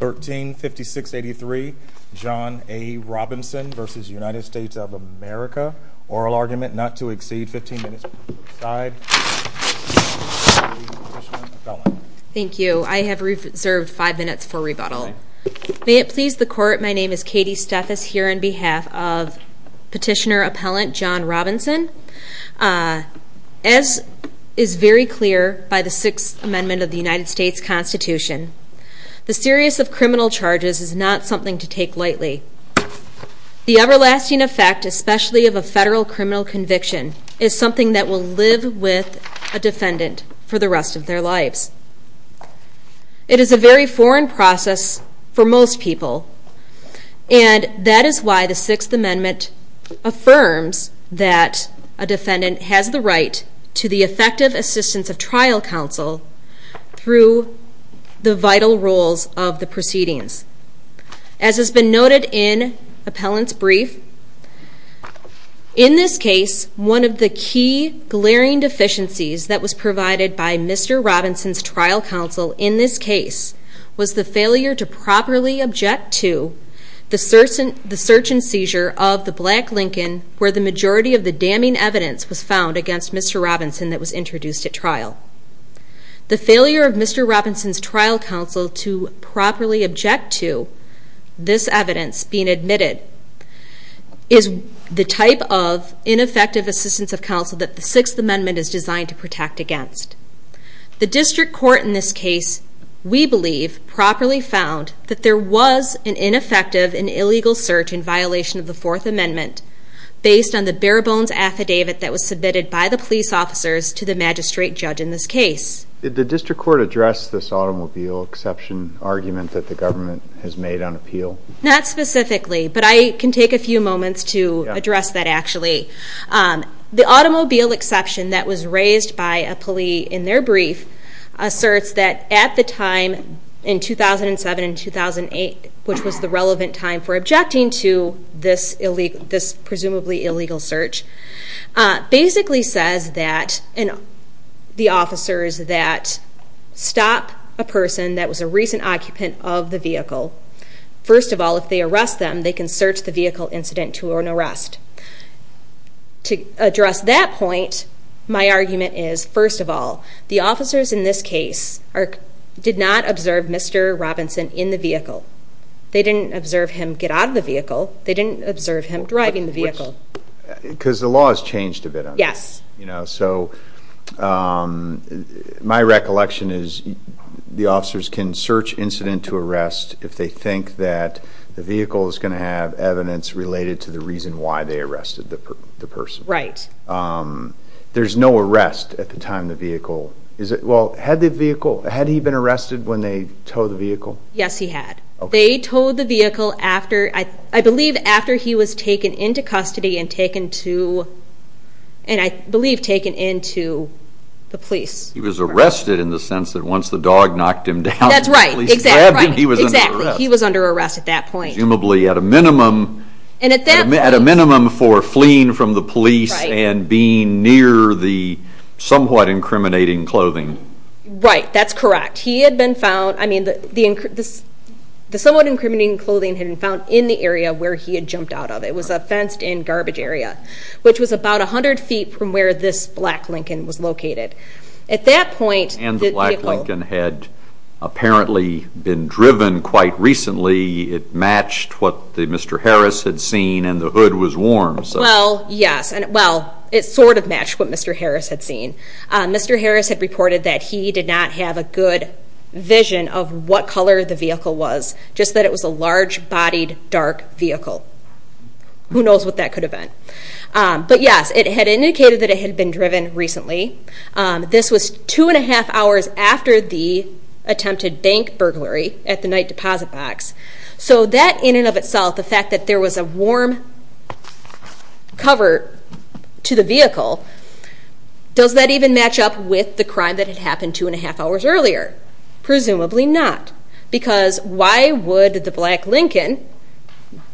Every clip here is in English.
135683, John A. Robinson v. United States of America. Oral argument not to exceed 15 minutes. Thank you. I have reserved five minutes for rebuttal. May it please the court, my name is Katie Steffes here on behalf of petitioner-appellant John Robinson. As is very clear by the Sixth Amendment of the United States Constitution, the serious of criminal charges is not something to take lightly. The everlasting effect especially of a federal criminal conviction is something that will live with a defendant for the rest of their lives. It is a very foreign process for most people and that is why the Sixth Amendment affirms that a defendant has the right to the effective assistance of the vital roles of the proceedings. As has been noted in appellant's brief, in this case one of the key glaring deficiencies that was provided by Mr. Robinson's trial counsel in this case was the failure to properly object to the search and seizure of the black Lincoln where the majority of the damning evidence was found against Mr. Robinson that was introduced at Mr. Robinson's trial counsel to properly object to this evidence being admitted is the type of ineffective assistance of counsel that the Sixth Amendment is designed to protect against. The district court in this case we believe properly found that there was an ineffective and illegal search in violation of the Fourth Amendment based on the bare-bones affidavit that was submitted by the police officers to the magistrate judge in this case. Did the district court address this automobile exception argument that the government has made on appeal? Not specifically, but I can take a few moments to address that actually. The automobile exception that was raised by a police in their brief asserts that at the time in 2007 and 2008, which was the relevant time for objecting to this presumably illegal search, basically says that the officers that stop a person that was a recent occupant of the vehicle, first of all if they arrest them they can search the vehicle incident to an arrest. To address that point, my argument is first of all the officers in this case did not observe Mr. Robinson in the vehicle. They didn't observe him get out of the vehicle. They didn't observe him driving the vehicle. Because the law has changed a bit. Yes. You know, so my recollection is the officers can search incident to arrest if they think that the vehicle is going to have evidence related to the reason why they arrested the person. Right. There's no arrest at the time the vehicle, is it, well had the vehicle, had he been arrested when they towed the he was taken into custody and taken to, and I believe taken into the police. He was arrested in the sense that once the dog knocked him down, that's right, he was under arrest. He was under arrest at that point. Presumably at a minimum, at a minimum for fleeing from the police and being near the somewhat incriminating clothing. Right, that's correct. He had been found, I mean the somewhat he had jumped out of. It was a fenced-in garbage area, which was about a hundred feet from where this black Lincoln was located. At that point, and the black Lincoln had apparently been driven quite recently, it matched what the Mr. Harris had seen and the hood was worn. Well, yes, and well it sort of matched what Mr. Harris had seen. Mr. Harris had reported that he did not have a good vision of what color the vehicle was, just that it was a large-bodied dark vehicle. Who knows what that could have been. But yes, it had indicated that it had been driven recently. This was two and a half hours after the attempted bank burglary at the night deposit box. So that in and of itself, the fact that there was a warm cover to the vehicle, does that even match up with the crime that had happened two and a half hours earlier? Presumably not, because why would the black Lincoln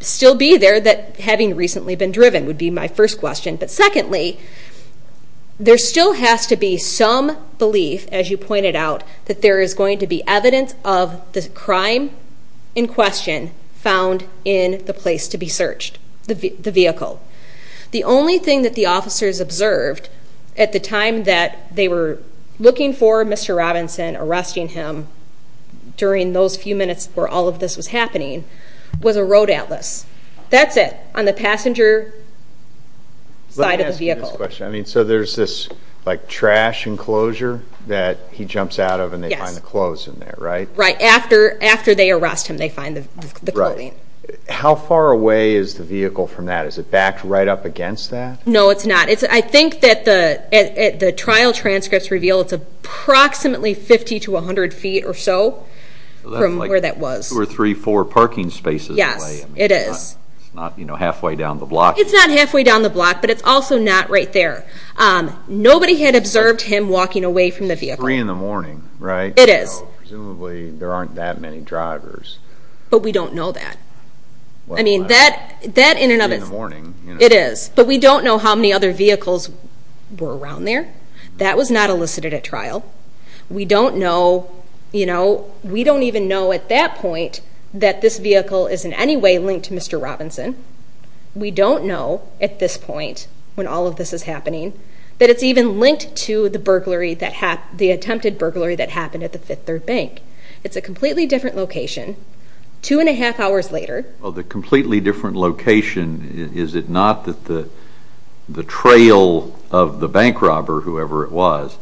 still be there that having recently been driven would be my first question. But secondly, there still has to be some belief, as you pointed out, that there is going to be evidence of the crime in question found in the place to be searched, the vehicle. The only thing that the officers observed at the time that they were looking for Mr. Robinson, arresting him, during those few minutes where all of this was happening, was a road atlas. That's it. On the passenger side of the vehicle. So there's this like trash enclosure that he jumps out of and they find the clothes in there, right? Right, after they arrest him, they find the clothing. How far away is the vehicle from that? Is it backed right up against that? No, it's not. I think that the trial transcripts reveal it's approximately 50 to 100 feet or so from where that was. So that's like 2 or 3, 4 parking spaces away. Yes, it is. It's not, you know, halfway down the block. It's not halfway down the block, but it's also not right there. Nobody had observed him walking away from the vehicle. It's 3 in the morning, right? It is. Presumably there aren't that many drivers. But we don't know that. I mean, that in and of itself. 3 in the morning. It is. But we don't know how many other vehicles were around there. That was not elicited at trial. We don't know, you know, we don't even know at that point that this vehicle is in any way linked to Mr. Robinson. We don't know, at this point, when all of this is happening, that it's even linked to the attempted burglary that happened at the Fifth Third Bank. It's a completely different location. Two and a half hours later. Well, the completely different location, is it not that the trail of the bank robber, whoever it was,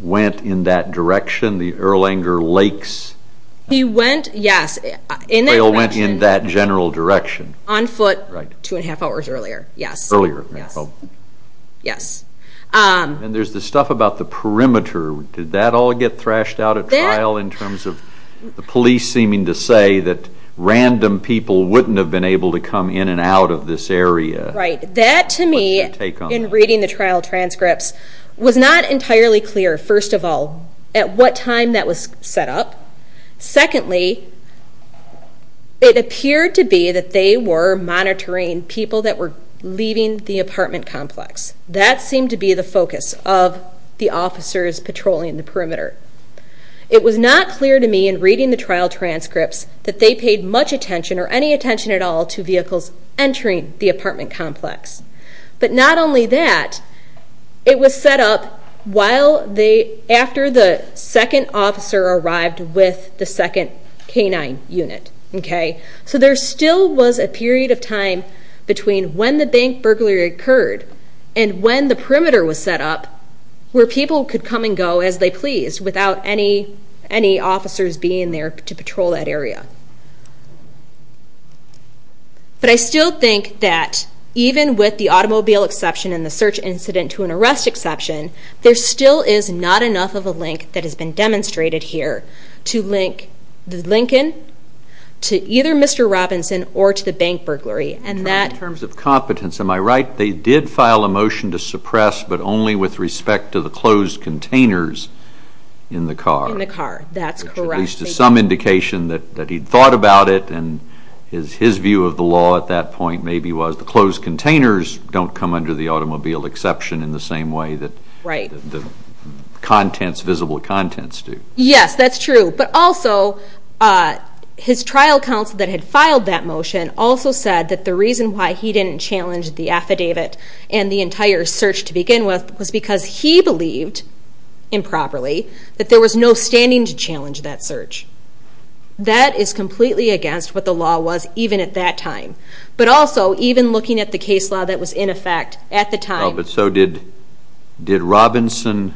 went in that direction, the Erlanger Lakes? He went, yes, in that direction. The trail went in that general direction. On foot. Right. Two and a half hours earlier. Yes. Earlier. Yes. Yes. And there's the stuff about the perimeter. Did that all get to say that random people wouldn't have been able to come in and out of this area? Right. That, to me, in reading the trial transcripts, was not entirely clear, first of all, at what time that was set up. Secondly, it appeared to be that they were monitoring people that were leaving the apartment complex. That seemed to be the focus of the officers patrolling the perimeter. It was not to me in reading the trial transcripts that they paid much attention or any attention at all to vehicles entering the apartment complex. But not only that, it was set up after the second officer arrived with the second canine unit. Okay. So there still was a period of time between when the bank burglary occurred and when the perimeter was set up where people could come and go as they being there to patrol that area. But I still think that even with the automobile exception and the search incident to an arrest exception, there still is not enough of a link that has been demonstrated here to link Lincoln to either Mr. Robinson or to the bank burglary. And that... In terms of competence, am I right? They did file a motion to suppress, but only with respect to the some indication that he'd thought about it. And his view of the law at that point maybe was the closed containers don't come under the automobile exception in the same way that the contents, visible contents do. Yes, that's true. But also his trial counsel that had filed that motion also said that the reason why he didn't challenge the affidavit and the entire search to begin with was because he believed improperly that there was no standing to challenge that search. That is completely against what the law was even at that time. But also even looking at the case law that was in effect at the time... But so did Robinson...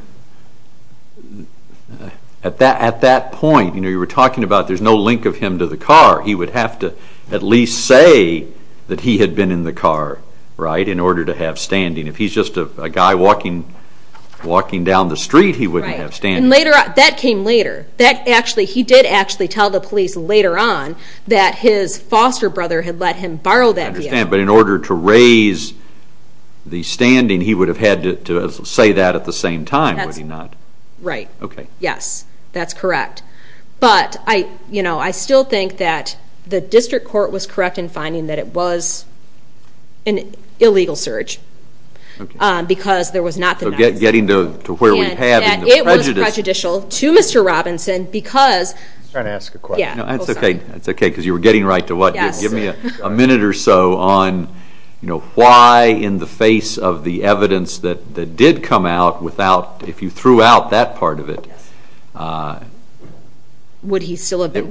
At that point, you were talking about there's no link of him to the car. He would have to at least say that he had been in the car, right? In order to have standing. If he's just a guy walking down the street, he wouldn't have standing. Right. And that came later. He did actually tell the police later on that his foster brother had let him borrow that vehicle. I understand. But in order to raise the standing, he would have had to say that at the same time, would he not? Right. Okay. Yes, that's correct. But I still think that the district court was correct in that it was an illegal search because there was not the... So getting to where we have in the prejudice... And that it was prejudicial to Mr. Robinson because... I'm trying to ask a question. Yeah. No, that's okay. That's okay because you were getting right to what you... Give me a minute or so on why in the face of the evidence that did come out without... If you threw out that part of it... Would he still have been...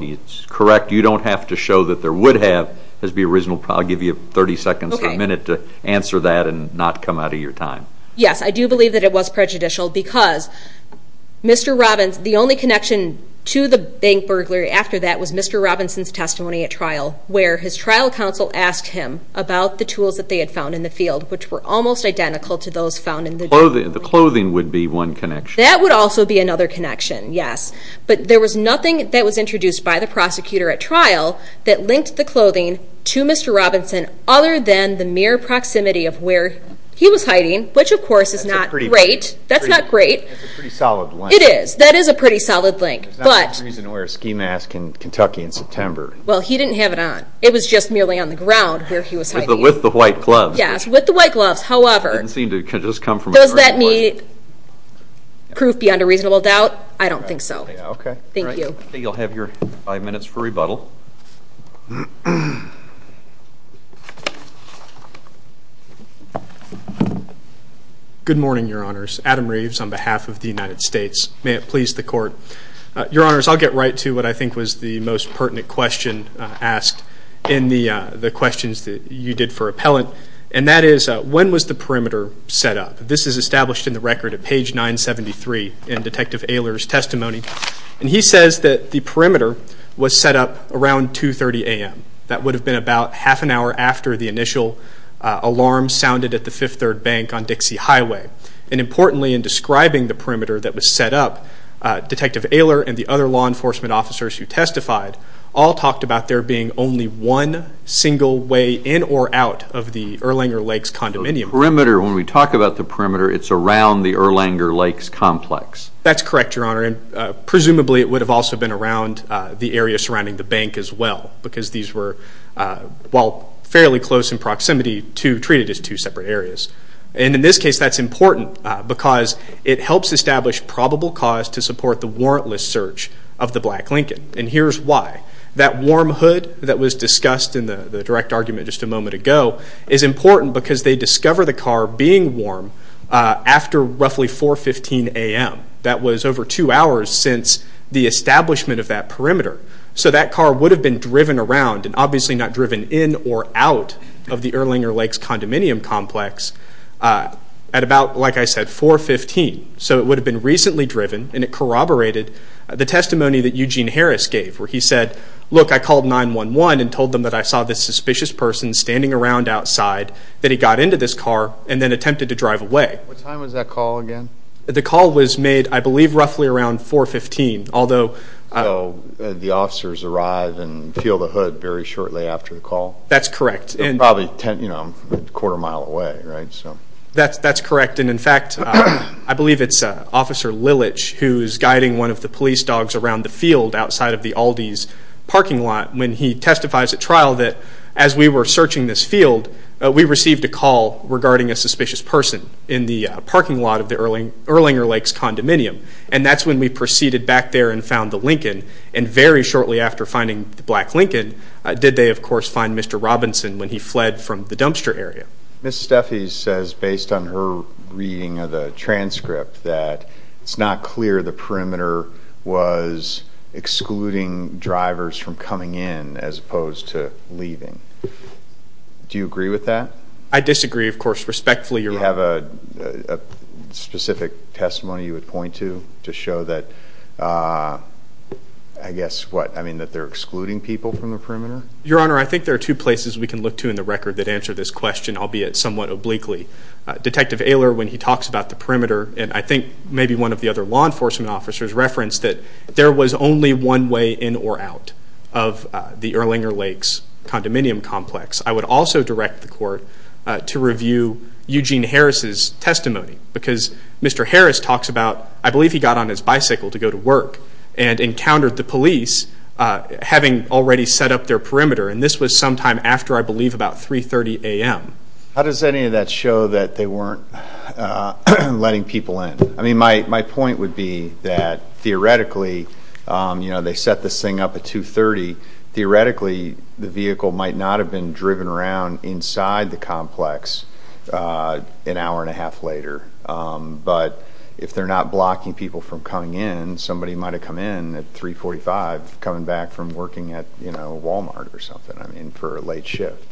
It's correct. You don't have to show that there would have as the original... I'll give you 30 seconds or a minute to answer that and not come out of your time. Yes, I do believe that it was prejudicial because Mr. Robinson... The only connection to the bank burglary after that was Mr. Robinson's testimony at trial, where his trial counsel asked him about the tools that they had found in the field, which were almost identical to those found in the... The clothing would be one connection. That would also be another connection, yes. But there was nothing that was introduced by the prosecutor at trial that linked the clothing to Mr. Robinson other than the mere proximity of where he was hiding, which of course is not great. That's not great. That's a pretty solid link. It is. That is a pretty solid link, but... There's not a reason to wear a ski mask in Kentucky in September. Well, he didn't have it on. It was just merely on the ground where he was hiding. With the white gloves. Yes, with the white gloves. However... It didn't seem to just come from a... Does that mean proof beyond a reasonable doubt? I don't think so. Okay. Thank you. You'll have your five minutes for rebuttal. Good morning, your honors. Adam Reeves on behalf of the United States. May it please the court. Your honors, I'll get right to what I think was the most pertinent question asked in the questions that you did for appellant. And that is, when was the perimeter set up? This is established in the record at page 973 in Detective Aylor's testimony. And he says that the perimeter was set up around 2.30 a.m. That would have been about half an hour after the initial alarm sounded at the Fifth Third Bank on Dixie Highway. And importantly, in describing the perimeter that was set up, Detective Aylor and the other law enforcement officers who testified all talked about there being only one single way in or out of the Erlanger Lakes condominium. The perimeter, when we talk about the perimeter, it's around the Erlanger Lakes complex. That's correct, your honor. And presumably, it would have also been around the area surrounding the bank as well, because these were, while fairly close in proximity, treated as two separate areas. And in this case, that's important because it helps establish probable cause to support the warrantless search of the Black Lincoln. And here's why. That warm hood that was discussed in the direct argument just a moment ago is important because they discover the car being warm after roughly 4.15 a.m. That was over two hours since the establishment of that perimeter. So that car would have been driven around and obviously not driven in or out of the Erlanger Lakes condominium complex at about, like I said, 4.15. So it would have been recently driven and it corroborated the testimony that Eugene Harris gave where he said, look, I called 911 and told them that I saw this suspicious person standing around outside, that he got into this car and then attempted to drive away. What time was that call again? The call was made, I believe, roughly around 4.15, although... So the officers arrive and feel the hood very shortly after the call? That's correct. They're probably a quarter mile away, right? That's correct. And in fact, I believe it's Officer Lilich who's guiding one of the police dogs around the field outside of the Aldi's parking lot when he testifies at trial that as we were searching this field, we received a call regarding a suspicious person in the parking lot of the Erlanger Lakes condominium. And that's when we proceeded back there and found the Lincoln. And very shortly after finding the black Lincoln, did they, of course, find Mr. Robinson when he fled from the dumpster area. Ms. Steffies says, based on her reading of the transcript, that it's not clear the perimeter was excluding drivers from coming in as opposed to leaving. Do you agree with that? I disagree, of course, respectfully, Your Honor. Do you have a specific testimony you would point to to show that, I guess, what, I mean, that they're excluding people from the perimeter? Your Honor, I think there are two places we can look to in the record that answer this question, albeit somewhat obliquely. Detective Ehler, when he talks about the perimeter, and I think maybe one of the other law enforcement officers referenced that there was only one way in or out of the Erlanger Lakes condominium complex. I would also direct the court to review Eugene Harris's testimony. Because Mr. Harris talks about, I believe he got on his bicycle to go to work and encountered the police having already set up their perimeter. And this was sometime after, I believe, about 3.30 a.m. How does any of that show that they weren't letting people in? I mean, my point would be that, theoretically, you know, they set this thing up at 2.30. Theoretically, the vehicle might not have been driven around inside the complex an hour and a half later. But if they're not blocking people from coming in, somebody might have come in at 3.45, coming back from working at, you know, Walmart or something, I mean, for a late shift.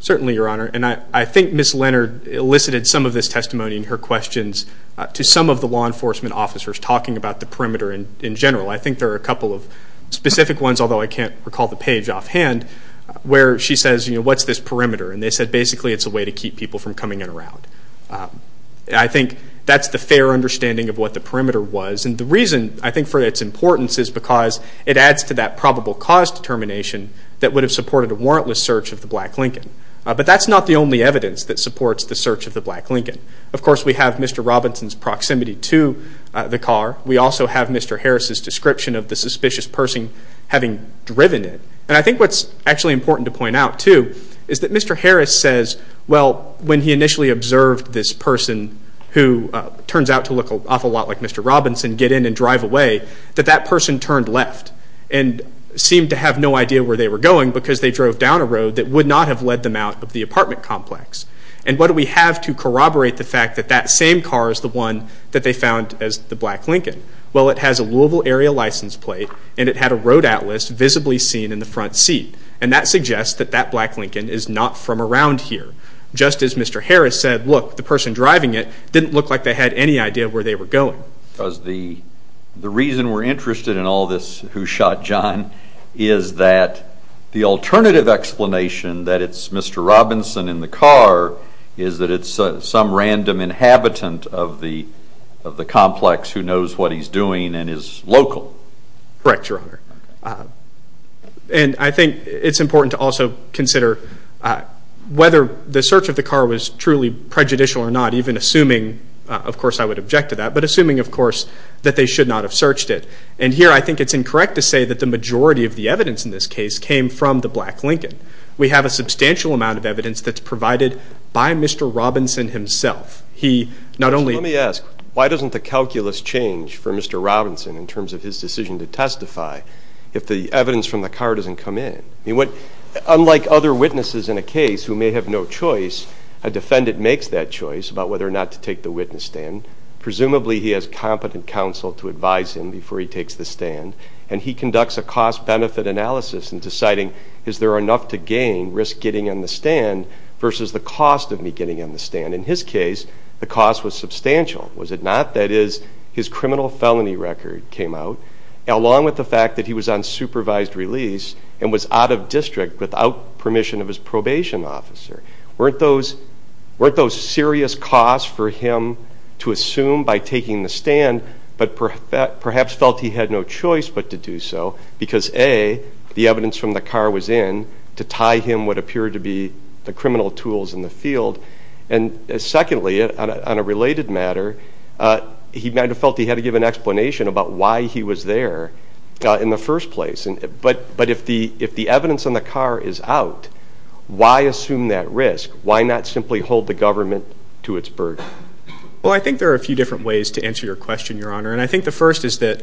Certainly, Your Honor. And I think Ms. Leonard elicited some of this testimony in her questions to some of the law enforcement officers talking about the perimeter in general. I think there are a couple of specific ones, although I can't recall the page offhand, where she says, you know, what's this perimeter? And they said, basically, it's a way to keep people from coming in and around. I think that's the fair understanding of what the perimeter was. And the reason, I think, for its importance is because it adds to that probable cause determination that would have supported a warrantless search of the black Lincoln. But that's not the only evidence that supports the search of the black Lincoln. Of course, we have Mr. Robinson's proximity to the car. We also have Mr. Harris's description of the suspicious person having driven it. And I think what's actually important to point out, too, is that Mr. Harris says, well, when he initially observed this person who turns out to look an awful lot like Mr. Robinson get in and drive away, that that person turned left and seemed to have no idea where they were going because they drove down a road that would not have led them out of the apartment complex. And what do we have to corroborate the fact that that same car is the one that they found as the black Lincoln? Well, it has a Louisville area license plate and it had a road atlas visibly seen in the front seat. And that suggests that that black Lincoln is not from around here. Just as Mr. Harris said, look, the person driving it didn't look like they had any idea where they were going. Because the reason we're interested in all this who shot John is that the alternative explanation that it's Mr. Robinson in the car is that it's some random inhabitant of the complex who knows what he's doing and is local. Correct, Your Honor. And I think it's important to also consider whether the search of the car was truly prejudicial or not, even assuming, of course, I would object to that, but assuming, of course, that they should not have searched it. And here I think it's incorrect to say that the majority of the evidence in this case came from the black Lincoln. We have a substantial amount of evidence that's provided by Mr. Robinson himself. He not only... Let me ask, why doesn't the calculus change for Mr. Robinson in terms of his decision to testify if the evidence from the car doesn't come in? Unlike other witnesses in a case who may have no choice, a defendant makes that choice about whether or not to take the witness stand. Presumably, he has competent counsel to advise him before he takes the stand. And he conducts a cost-benefit analysis in deciding, is there enough to gain risk getting in the stand versus the cost of me getting in the stand? In his case, the cost was substantial, was it not? That is, his criminal felony record came out, along with the fact that he was on supervised release and was out of district without permission of his probation officer. Weren't those serious costs for him to assume by taking the stand, but perhaps felt he had no choice but to do so? Because A, the evidence from the car was in to tie him what appeared to be the criminal tools in the field. And secondly, on a related matter, he might have felt he had to give an explanation about why he was there in the first place. But if the evidence on the car is out, why assume that risk? Why not simply hold the government to its burden? Well, I think there are a few different ways to answer your question, Your Honor. And I think the first is that,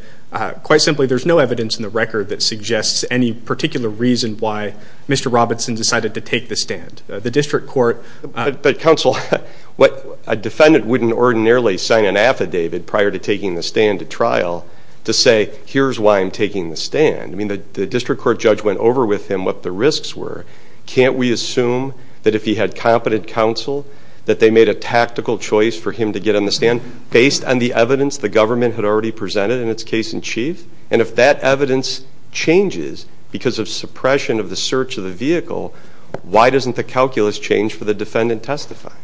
quite simply, there's no evidence in the record that suggests any particular reason why Mr. Robinson decided to take the stand. The district court... But counsel, a defendant wouldn't ordinarily sign an affidavit prior to taking the stand at trial to say, here's why I'm taking the stand. I mean, the district court judge went over with him what the risks were. Can't we assume that if he had competent counsel, that they made a tactical choice for him to get on the stand based on the evidence the government had already presented in its case in chief? And if that evidence changes because of suppression of the search of the vehicle, why doesn't the calculus change for the defendant testifying?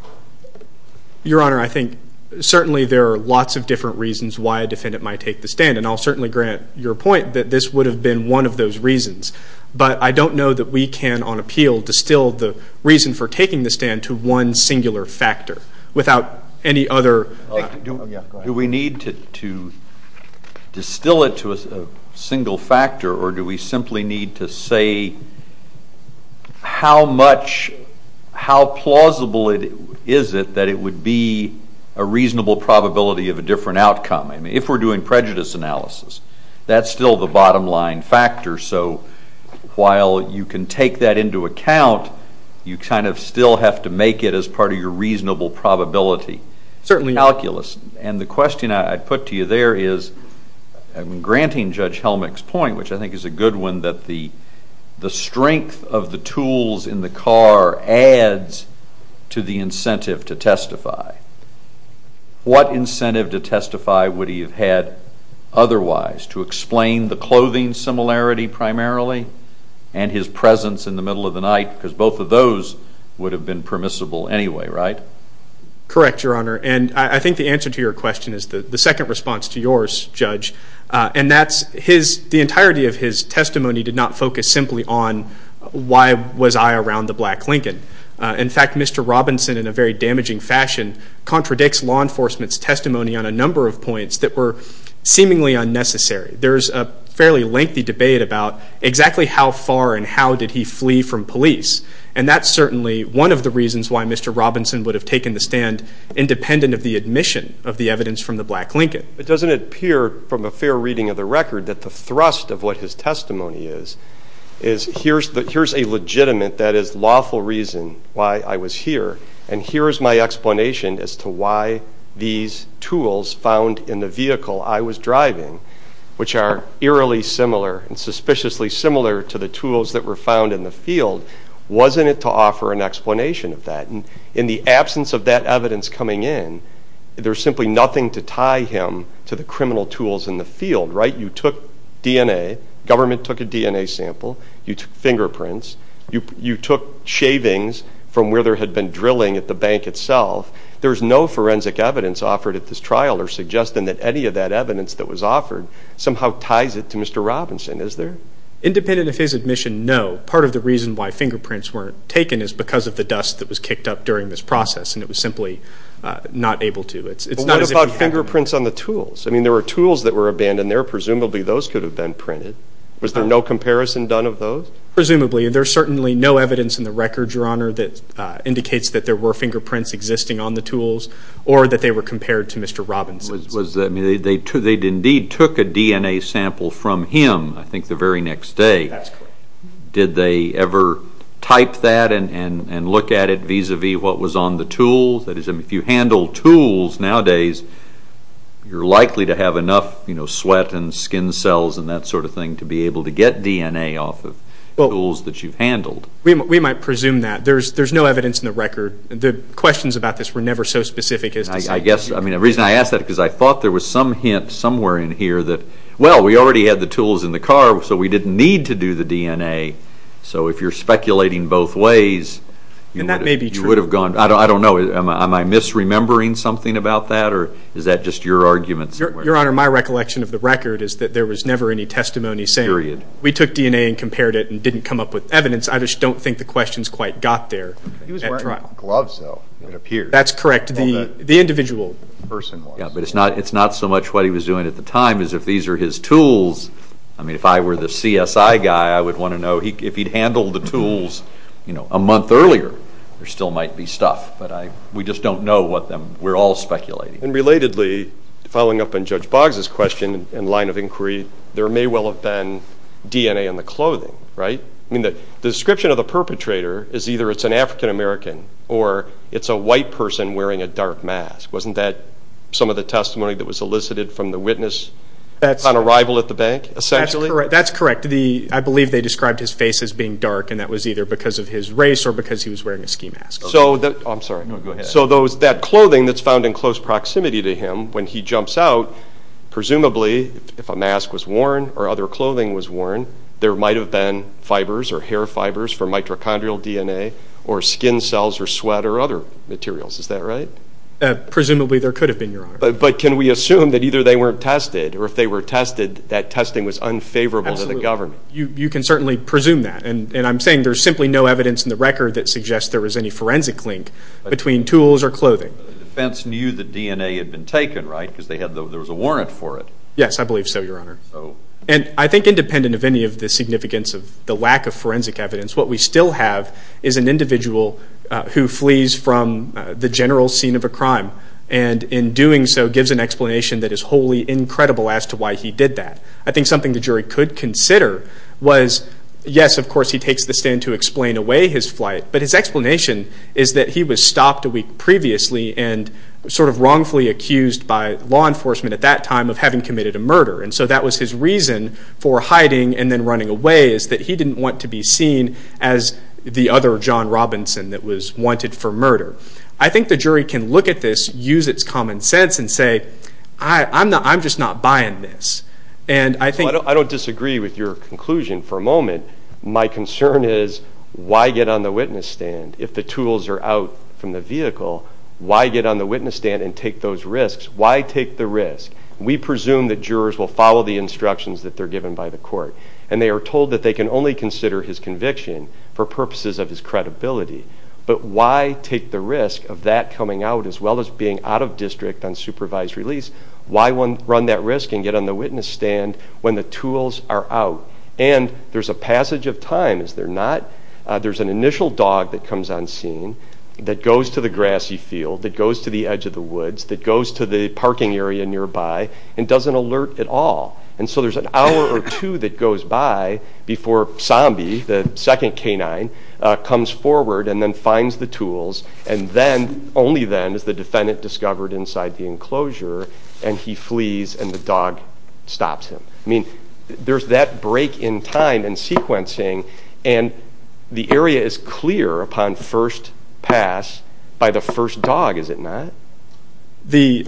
Your Honor, I think certainly there are lots of different reasons why a defendant might take the stand. And I'll certainly grant your point that this would have been one of those reasons. But I don't know that we can, on appeal, distill the reason for taking the stand to one singular factor without any other... Do we need to distill it to a single factor? Or do we simply need to say how much... How plausible is it that it would be a reasonable probability of a different outcome? I mean, if we're doing prejudice analysis, that's still the bottom line factor. So while you can take that into account, you kind of still have to make it as part of your reasonable probability. Certainly calculus. And the question I put to you there is... I'm granting Judge Helmick's point, which I think is a good one, that the strength of the tools in the car adds to the incentive to testify. What incentive to testify would he have had otherwise? To explain the clothing similarity primarily? And his presence in the middle of the night? Because both of those would have been permissible anyway, right? Correct, Your Honor. And I think the answer to your question is the second response to yours, Judge. And that's the entirety of his testimony did not focus simply on why was I around the black Lincoln. In fact, Mr. Robinson, in a very damaging fashion, contradicts law enforcement's testimony on a number of points that were unnecessary. There's a fairly lengthy debate about exactly how far and how did he flee from police. And that's certainly one of the reasons why Mr. Robinson would have taken the stand independent of the admission of the evidence from the black Lincoln. It doesn't appear from a fair reading of the record that the thrust of what his testimony is, is here's a legitimate, that is lawful reason why I was here. And here's my explanation as to why these tools found in the vehicle I was driving, which are eerily similar and suspiciously similar to the tools that were found in the field, wasn't it to offer an explanation of that. And in the absence of that evidence coming in, there's simply nothing to tie him to the criminal tools in the field, right? You took DNA, government took a DNA sample, you took fingerprints, you took shavings from where there had been drilling at the bank itself. There's no forensic evidence offered at this trial or suggesting that any of that evidence that was offered somehow ties it to Mr. Robinson, is there? Independent of his admission, no. Part of the reason why fingerprints weren't taken is because of the dust that was kicked up during this process. And it was simply not able to. It's not as if he had... But what about fingerprints on the tools? I mean, there were tools that were abandoned there. Presumably those could have been printed. Was there no comparison done of those? Presumably. There's certainly no evidence in the record, Your Honor, that indicates that there were fingerprints existing on the tools or that they were compared to Mr. Robinson's. Was that... I mean, they indeed took a DNA sample from him, I think, the very next day. That's correct. Did they ever type that and look at it vis-a-vis what was on the tools? That is, if you handle tools nowadays, you're likely to have enough, you know, tools that you've handled. We might presume that. There's no evidence in the record. The questions about this were never so specific as to say... I guess, I mean, the reason I ask that is because I thought there was some hint somewhere in here that, well, we already had the tools in the car, so we didn't need to do the DNA. So if you're speculating both ways... Then that may be true. ...you would have gone, I don't know, am I misremembering something about that? Or is that just your argument somewhere? Your Honor, my recollection of the record is that there was never any testimony saying... Period. We took DNA and compared it and didn't come up with evidence. I just don't think the questions quite got there. He was wearing gloves, though, it appears. That's correct. The individual person was. Yeah, but it's not so much what he was doing at the time as if these are his tools. I mean, if I were the CSI guy, I would want to know if he'd handled the tools, you know, a month earlier, there still might be stuff. But we just don't know what them... We're all speculating. And relatedly, following up on Judge Boggs's question in line of inquiry, there may well have been DNA in the clothing, right? I mean, the description of the perpetrator is either it's an African-American or it's a white person wearing a dark mask. Wasn't that some of the testimony that was elicited from the witness on arrival at the bank, essentially? That's correct. I believe they described his face as being dark, and that was either because of his race or because he was wearing a ski mask. So that... Oh, I'm sorry. No, go ahead. So that clothing that's found in close proximity to him, when he jumps out, presumably, if a mask was worn or other clothing was worn, there might have been fibers or hair fibers for mitochondrial DNA or skin cells or sweat or other materials. Is that right? Presumably, there could have been, Your Honor. But can we assume that either they weren't tested or if they were tested, that testing was unfavorable to the government? You can certainly presume that. And I'm saying there's simply no evidence in the record that suggests there was any forensic link between tools or clothing. The defense knew the DNA had been taken, right? There was a warrant for it. Yes, I believe so, Your Honor. And I think, independent of any of the significance of the lack of forensic evidence, what we still have is an individual who flees from the general scene of a crime and, in doing so, gives an explanation that is wholly incredible as to why he did that. I think something the jury could consider was, yes, of course, he takes the stand to explain away his flight, but his explanation is that he was stopped a week previously and sort of wrongfully accused by law enforcement at that time of having committed a murder. And so that was his reason for hiding and then running away, is that he didn't want to be seen as the other John Robinson that was wanted for murder. I think the jury can look at this, use its common sense and say, I'm just not buying this. And I think... I don't disagree with your conclusion for a moment. My concern is, why get on the witness stand? If the tools are out from the vehicle, why get on the witness stand and take those risks? Why take the risk? We presume that jurors will follow the instructions that they're given by the court, and they are told that they can only consider his conviction for purposes of his credibility. But why take the risk of that coming out as well as being out of district on supervised release? Why run that risk and get on the witness stand when the tools are out? And there's a passage of time, is there not? There's an initial dog that comes on scene that goes to the grassy field, that goes to the edge of the woods, that goes to the parking area nearby, and doesn't alert at all. And so there's an hour or two that goes by before Sambi, the second canine, comes forward and then finds the tools. And then, only then, is the defendant discovered inside the enclosure, and he flees and the dog stops him. I mean, there's that break in time and sequencing. And the area is clear upon first pass by the first dog, is it not?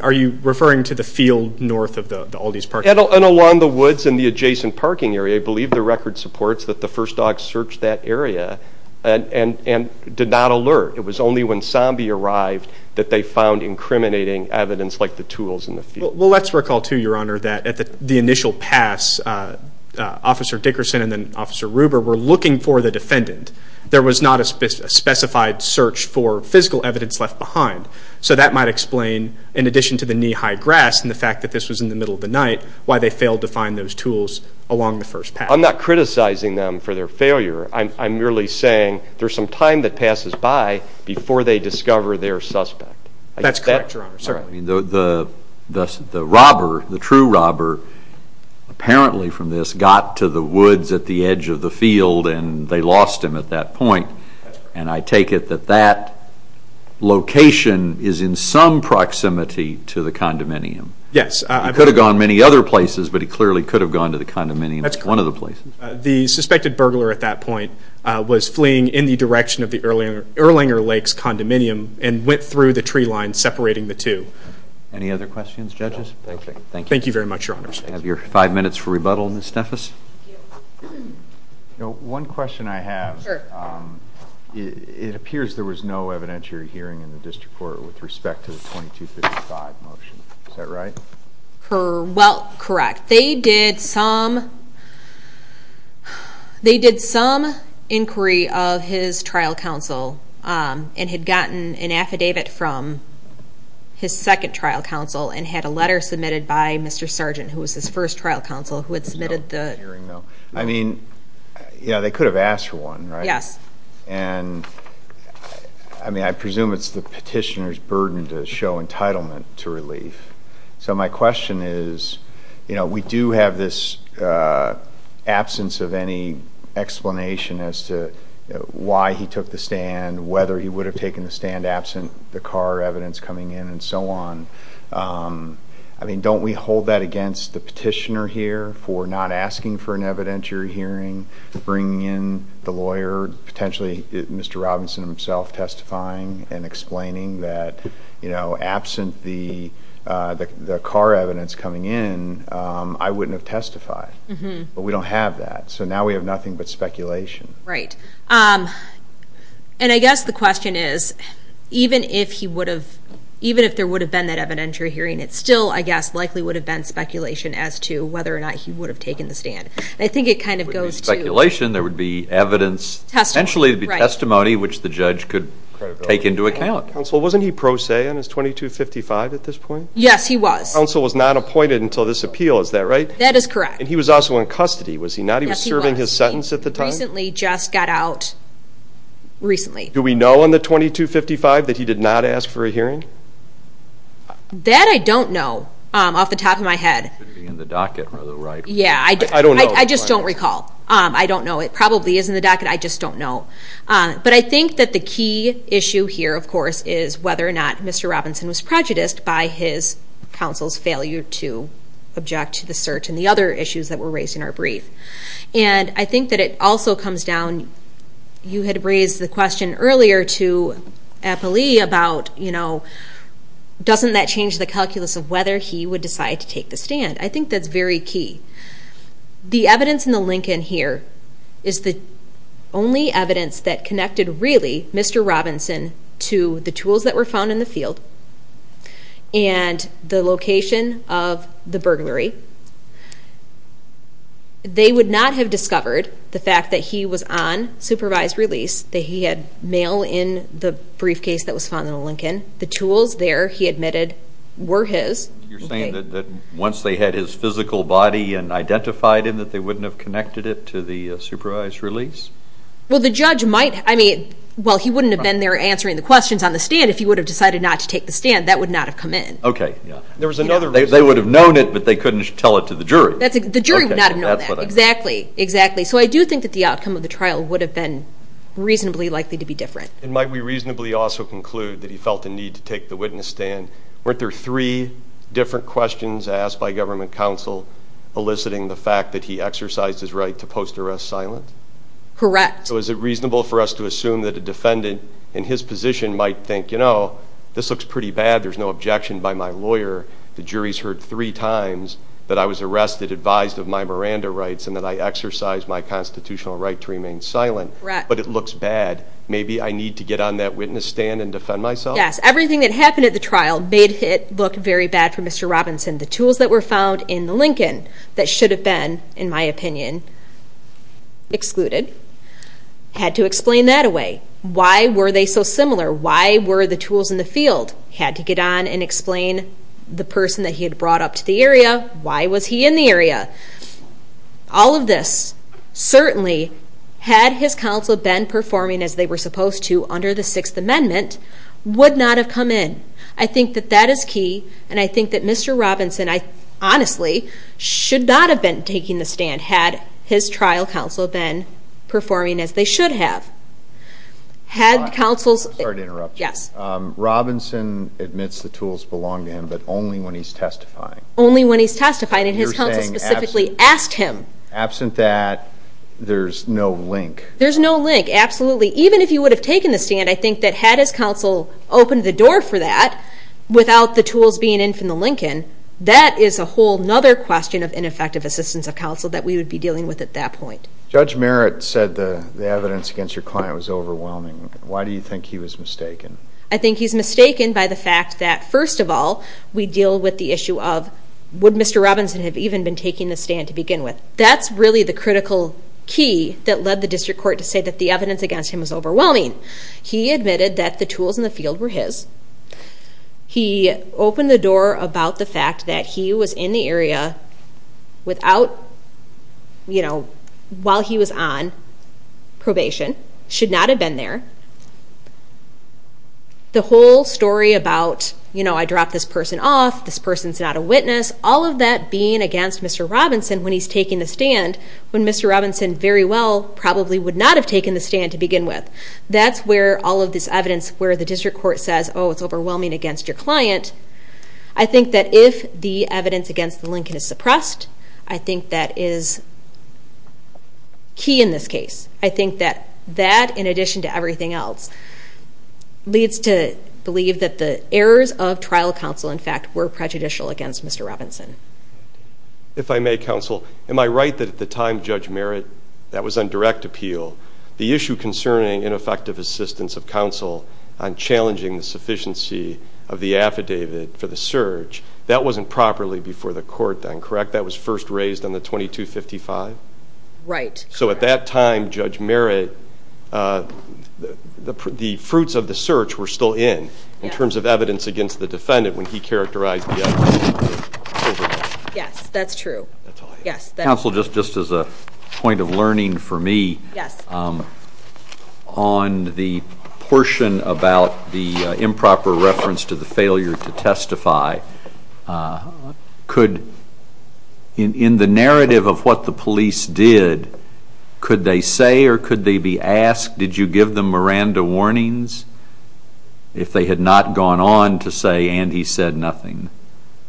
Are you referring to the field north of the Aldi's parking lot? And along the woods in the adjacent parking area. I believe the record supports that the first dog searched that area and did not alert. It was only when Sambi arrived that they found incriminating evidence like the tools in the field. Well, let's recall, too, Your Honor, that at the initial pass, Officer Dickerson and then Officer Ruber were looking for the defendant. There was not a specified search for physical evidence left behind. So that might explain, in addition to the knee-high grass, and the fact that this was in the middle of the night, why they failed to find those tools along the first pass. I'm not criticizing them for their failure. I'm merely saying there's some time that passes by before they discover their suspect. That's correct, Your Honor. The robber, the true robber, apparently from this, got to the woods at the edge of the field and they lost him at that point. And I take it that that location is in some proximity to the condominium. Yes. He could have gone many other places, but he clearly could have gone to the condominium. That's correct. One of the places. The suspected burglar at that point was fleeing in the direction of the Erlanger Lakes condominium and went through the tree line separating the two. Any other questions, judges? No. Thank you. Thank you very much, Your Honors. You have your five minutes for rebuttal, Ms. Steffes. You know, one question I have. Sure. It appears there was no evidentiary hearing in the district court with respect to the 2255 motion. Is that right? Well, correct. They did some inquiry of his trial counsel and had gotten an affidavit from his second trial counsel and had a letter submitted by Mr. Sargent, who was his first trial counsel, who had submitted the... I mean, yeah, they could have asked for one, right? Yes. And I mean, I presume it's the petitioner's burden to show entitlement to relief. So my question is, you know, we do have this absence of any explanation as to why he took the stand, whether he would have taken the stand absent the car evidence coming in and so on. I mean, don't we hold that against the petitioner here for not asking for an evidentiary hearing, bringing in the lawyer, potentially Mr. Robinson himself testifying and explaining that, you know, absent the car evidence coming in, I wouldn't have testified. But we don't have that. So now we have nothing but speculation. Right. And I guess the question is, even if there would have been that evidentiary hearing, it still, I guess, likely would have been speculation as to whether or not he would have taken the stand. I think it kind of goes to... It would be speculation. There would be evidence. Testimony. Potentially it would be testimony, which the judge could take into account. Wasn't he pro se on his 2255 at this point? Yes, he was. Counsel was not appointed until this appeal, is that right? That is correct. And he was also in custody, was he not? He was serving his sentence at the time? He recently just got out. Recently. Do we know on the 2255 that he did not ask for a hearing? That I don't know off the top of my head. It should be in the docket on the right. Yeah, I don't know. I just don't recall. I don't know. It probably is in the docket. I just don't know. But I think that the key issue here, of course, is whether or not Mr. Robinson was prejudiced by his counsel's failure to object to the search and the other issues that were raised in our brief. And I think that it also comes down... You had raised the question earlier to Eppley about doesn't that change the calculus of whether he would decide to take the stand? I think that's very key. The evidence in the Lincoln here is the only evidence that connected really Mr. Robinson to the tools that were found in the field and the location of the burglary. They would not have discovered the fact that he was on supervised release, that he had mail in the briefcase that was found in the Lincoln. The tools there, he admitted, were his. You're saying that once they had his physical body and identified him, that they wouldn't have connected it to the supervised release? Well, the judge might... I mean, well, he wouldn't have been there answering the questions on the stand if he would have decided not to take the stand. That would not have come in. Okay. They would have known it, but they couldn't tell it to the jury. The jury would not have known that. Exactly. Exactly. So I do think that the outcome of the trial would have been reasonably likely to be different. And might we reasonably also conclude that he felt the need to take the witness stand? Weren't there three different questions asked by government counsel eliciting the fact that he exercised his right to post-arrest silent? Correct. So is it reasonable for us to assume that a defendant in his position might think, you know, this looks pretty bad. There's no objection by my lawyer. The jury's heard three times that I was arrested, advised of my Miranda rights, and that I exercised my constitutional right to remain silent. Correct. But it looks bad. Maybe I need to get on that witness stand and defend myself? Yes. Everything that happened at the trial made it look very bad for Mr. Robinson. The tools that were found in the Lincoln that should have been, in my opinion, excluded, had to explain that away. Why were they so similar? Why were the tools in the field? Had to get on and explain the person that he had brought up to the area. Why was he in the area? All of this, certainly, had his counsel been performing as they were supposed to under the Sixth Amendment, would not have come in. I think that that is key. And I think that Mr. Robinson, honestly, should not have been taking the stand had his trial counsel been performing as they should have. Had counsels... Sorry to interrupt you. Yes. Robinson admits the tools belong to him, but only when he's testifying. Only when he's testifying. And his counsel specifically asked him. Absent that, there's no link. There's no link, absolutely. Even if he would have taken the stand, I think that had his counsel opened the door for that without the tools being in from the Lincoln, that is a whole other question of ineffective assistance of counsel that we would be dealing with at that point. Judge Merritt said the evidence against your client was overwhelming. Why do you think he was mistaken? I think he's mistaken by the fact that, first of all, we deal with the issue of, would Mr. Robinson have even been taking the stand to begin with? That's really the critical key that led the District Court to say that the evidence against him was overwhelming. He admitted that the tools in the field were his. He opened the door about the fact that he was in the area while he was on probation, should not have been there. The whole story about, I dropped this person off, this person's not a witness, all of that being against Mr. Robinson when he's taking the stand, when Mr. Robinson very well probably would not have taken the stand to begin with. That's where all of this evidence where the District Court says, oh, it's overwhelming against your client. I think that if the evidence against the Lincoln is suppressed, I think that is key in this case. I think that that, in addition to everything else, leads to believe that the errors of trial counsel, in fact, were prejudicial against Mr. Robinson. If I may, counsel, am I right that at the time Judge Merritt, that was on direct appeal, the issue concerning ineffective assistance of counsel on challenging the sufficiency of the affidavit for the search, that wasn't properly before the court then, correct? That was first raised on the 2255? Right. So at that time, Judge Merritt, the fruits of the search were still in, in terms of evidence against the defendant when he characterized the affidavit. Yes, that's true. Yes. Counsel, just as a point of learning for me, on the portion about the improper reference to the failure to testify, could, in the narrative of what the police did, could they say or could they be asked, did you give them Miranda warnings? If they had not gone on to say, and he said nothing.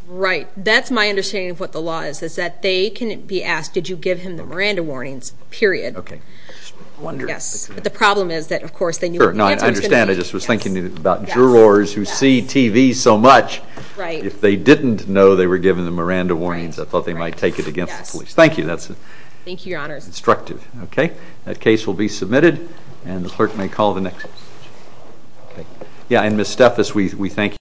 Right. That's my understanding of what the law is, is that they can be asked, did you give him the Miranda warnings, period. Okay. Yes. But the problem is that, of course, they knew what the answer was going to be. I understand. I just was thinking about jurors who see TV so much. Right. If they didn't know they were given the Miranda warnings, I thought they might take it against the police. Thank you. That's instructive. That case will be submitted and the clerk may call the next. Yeah. And Ms. Steffes, we thank you.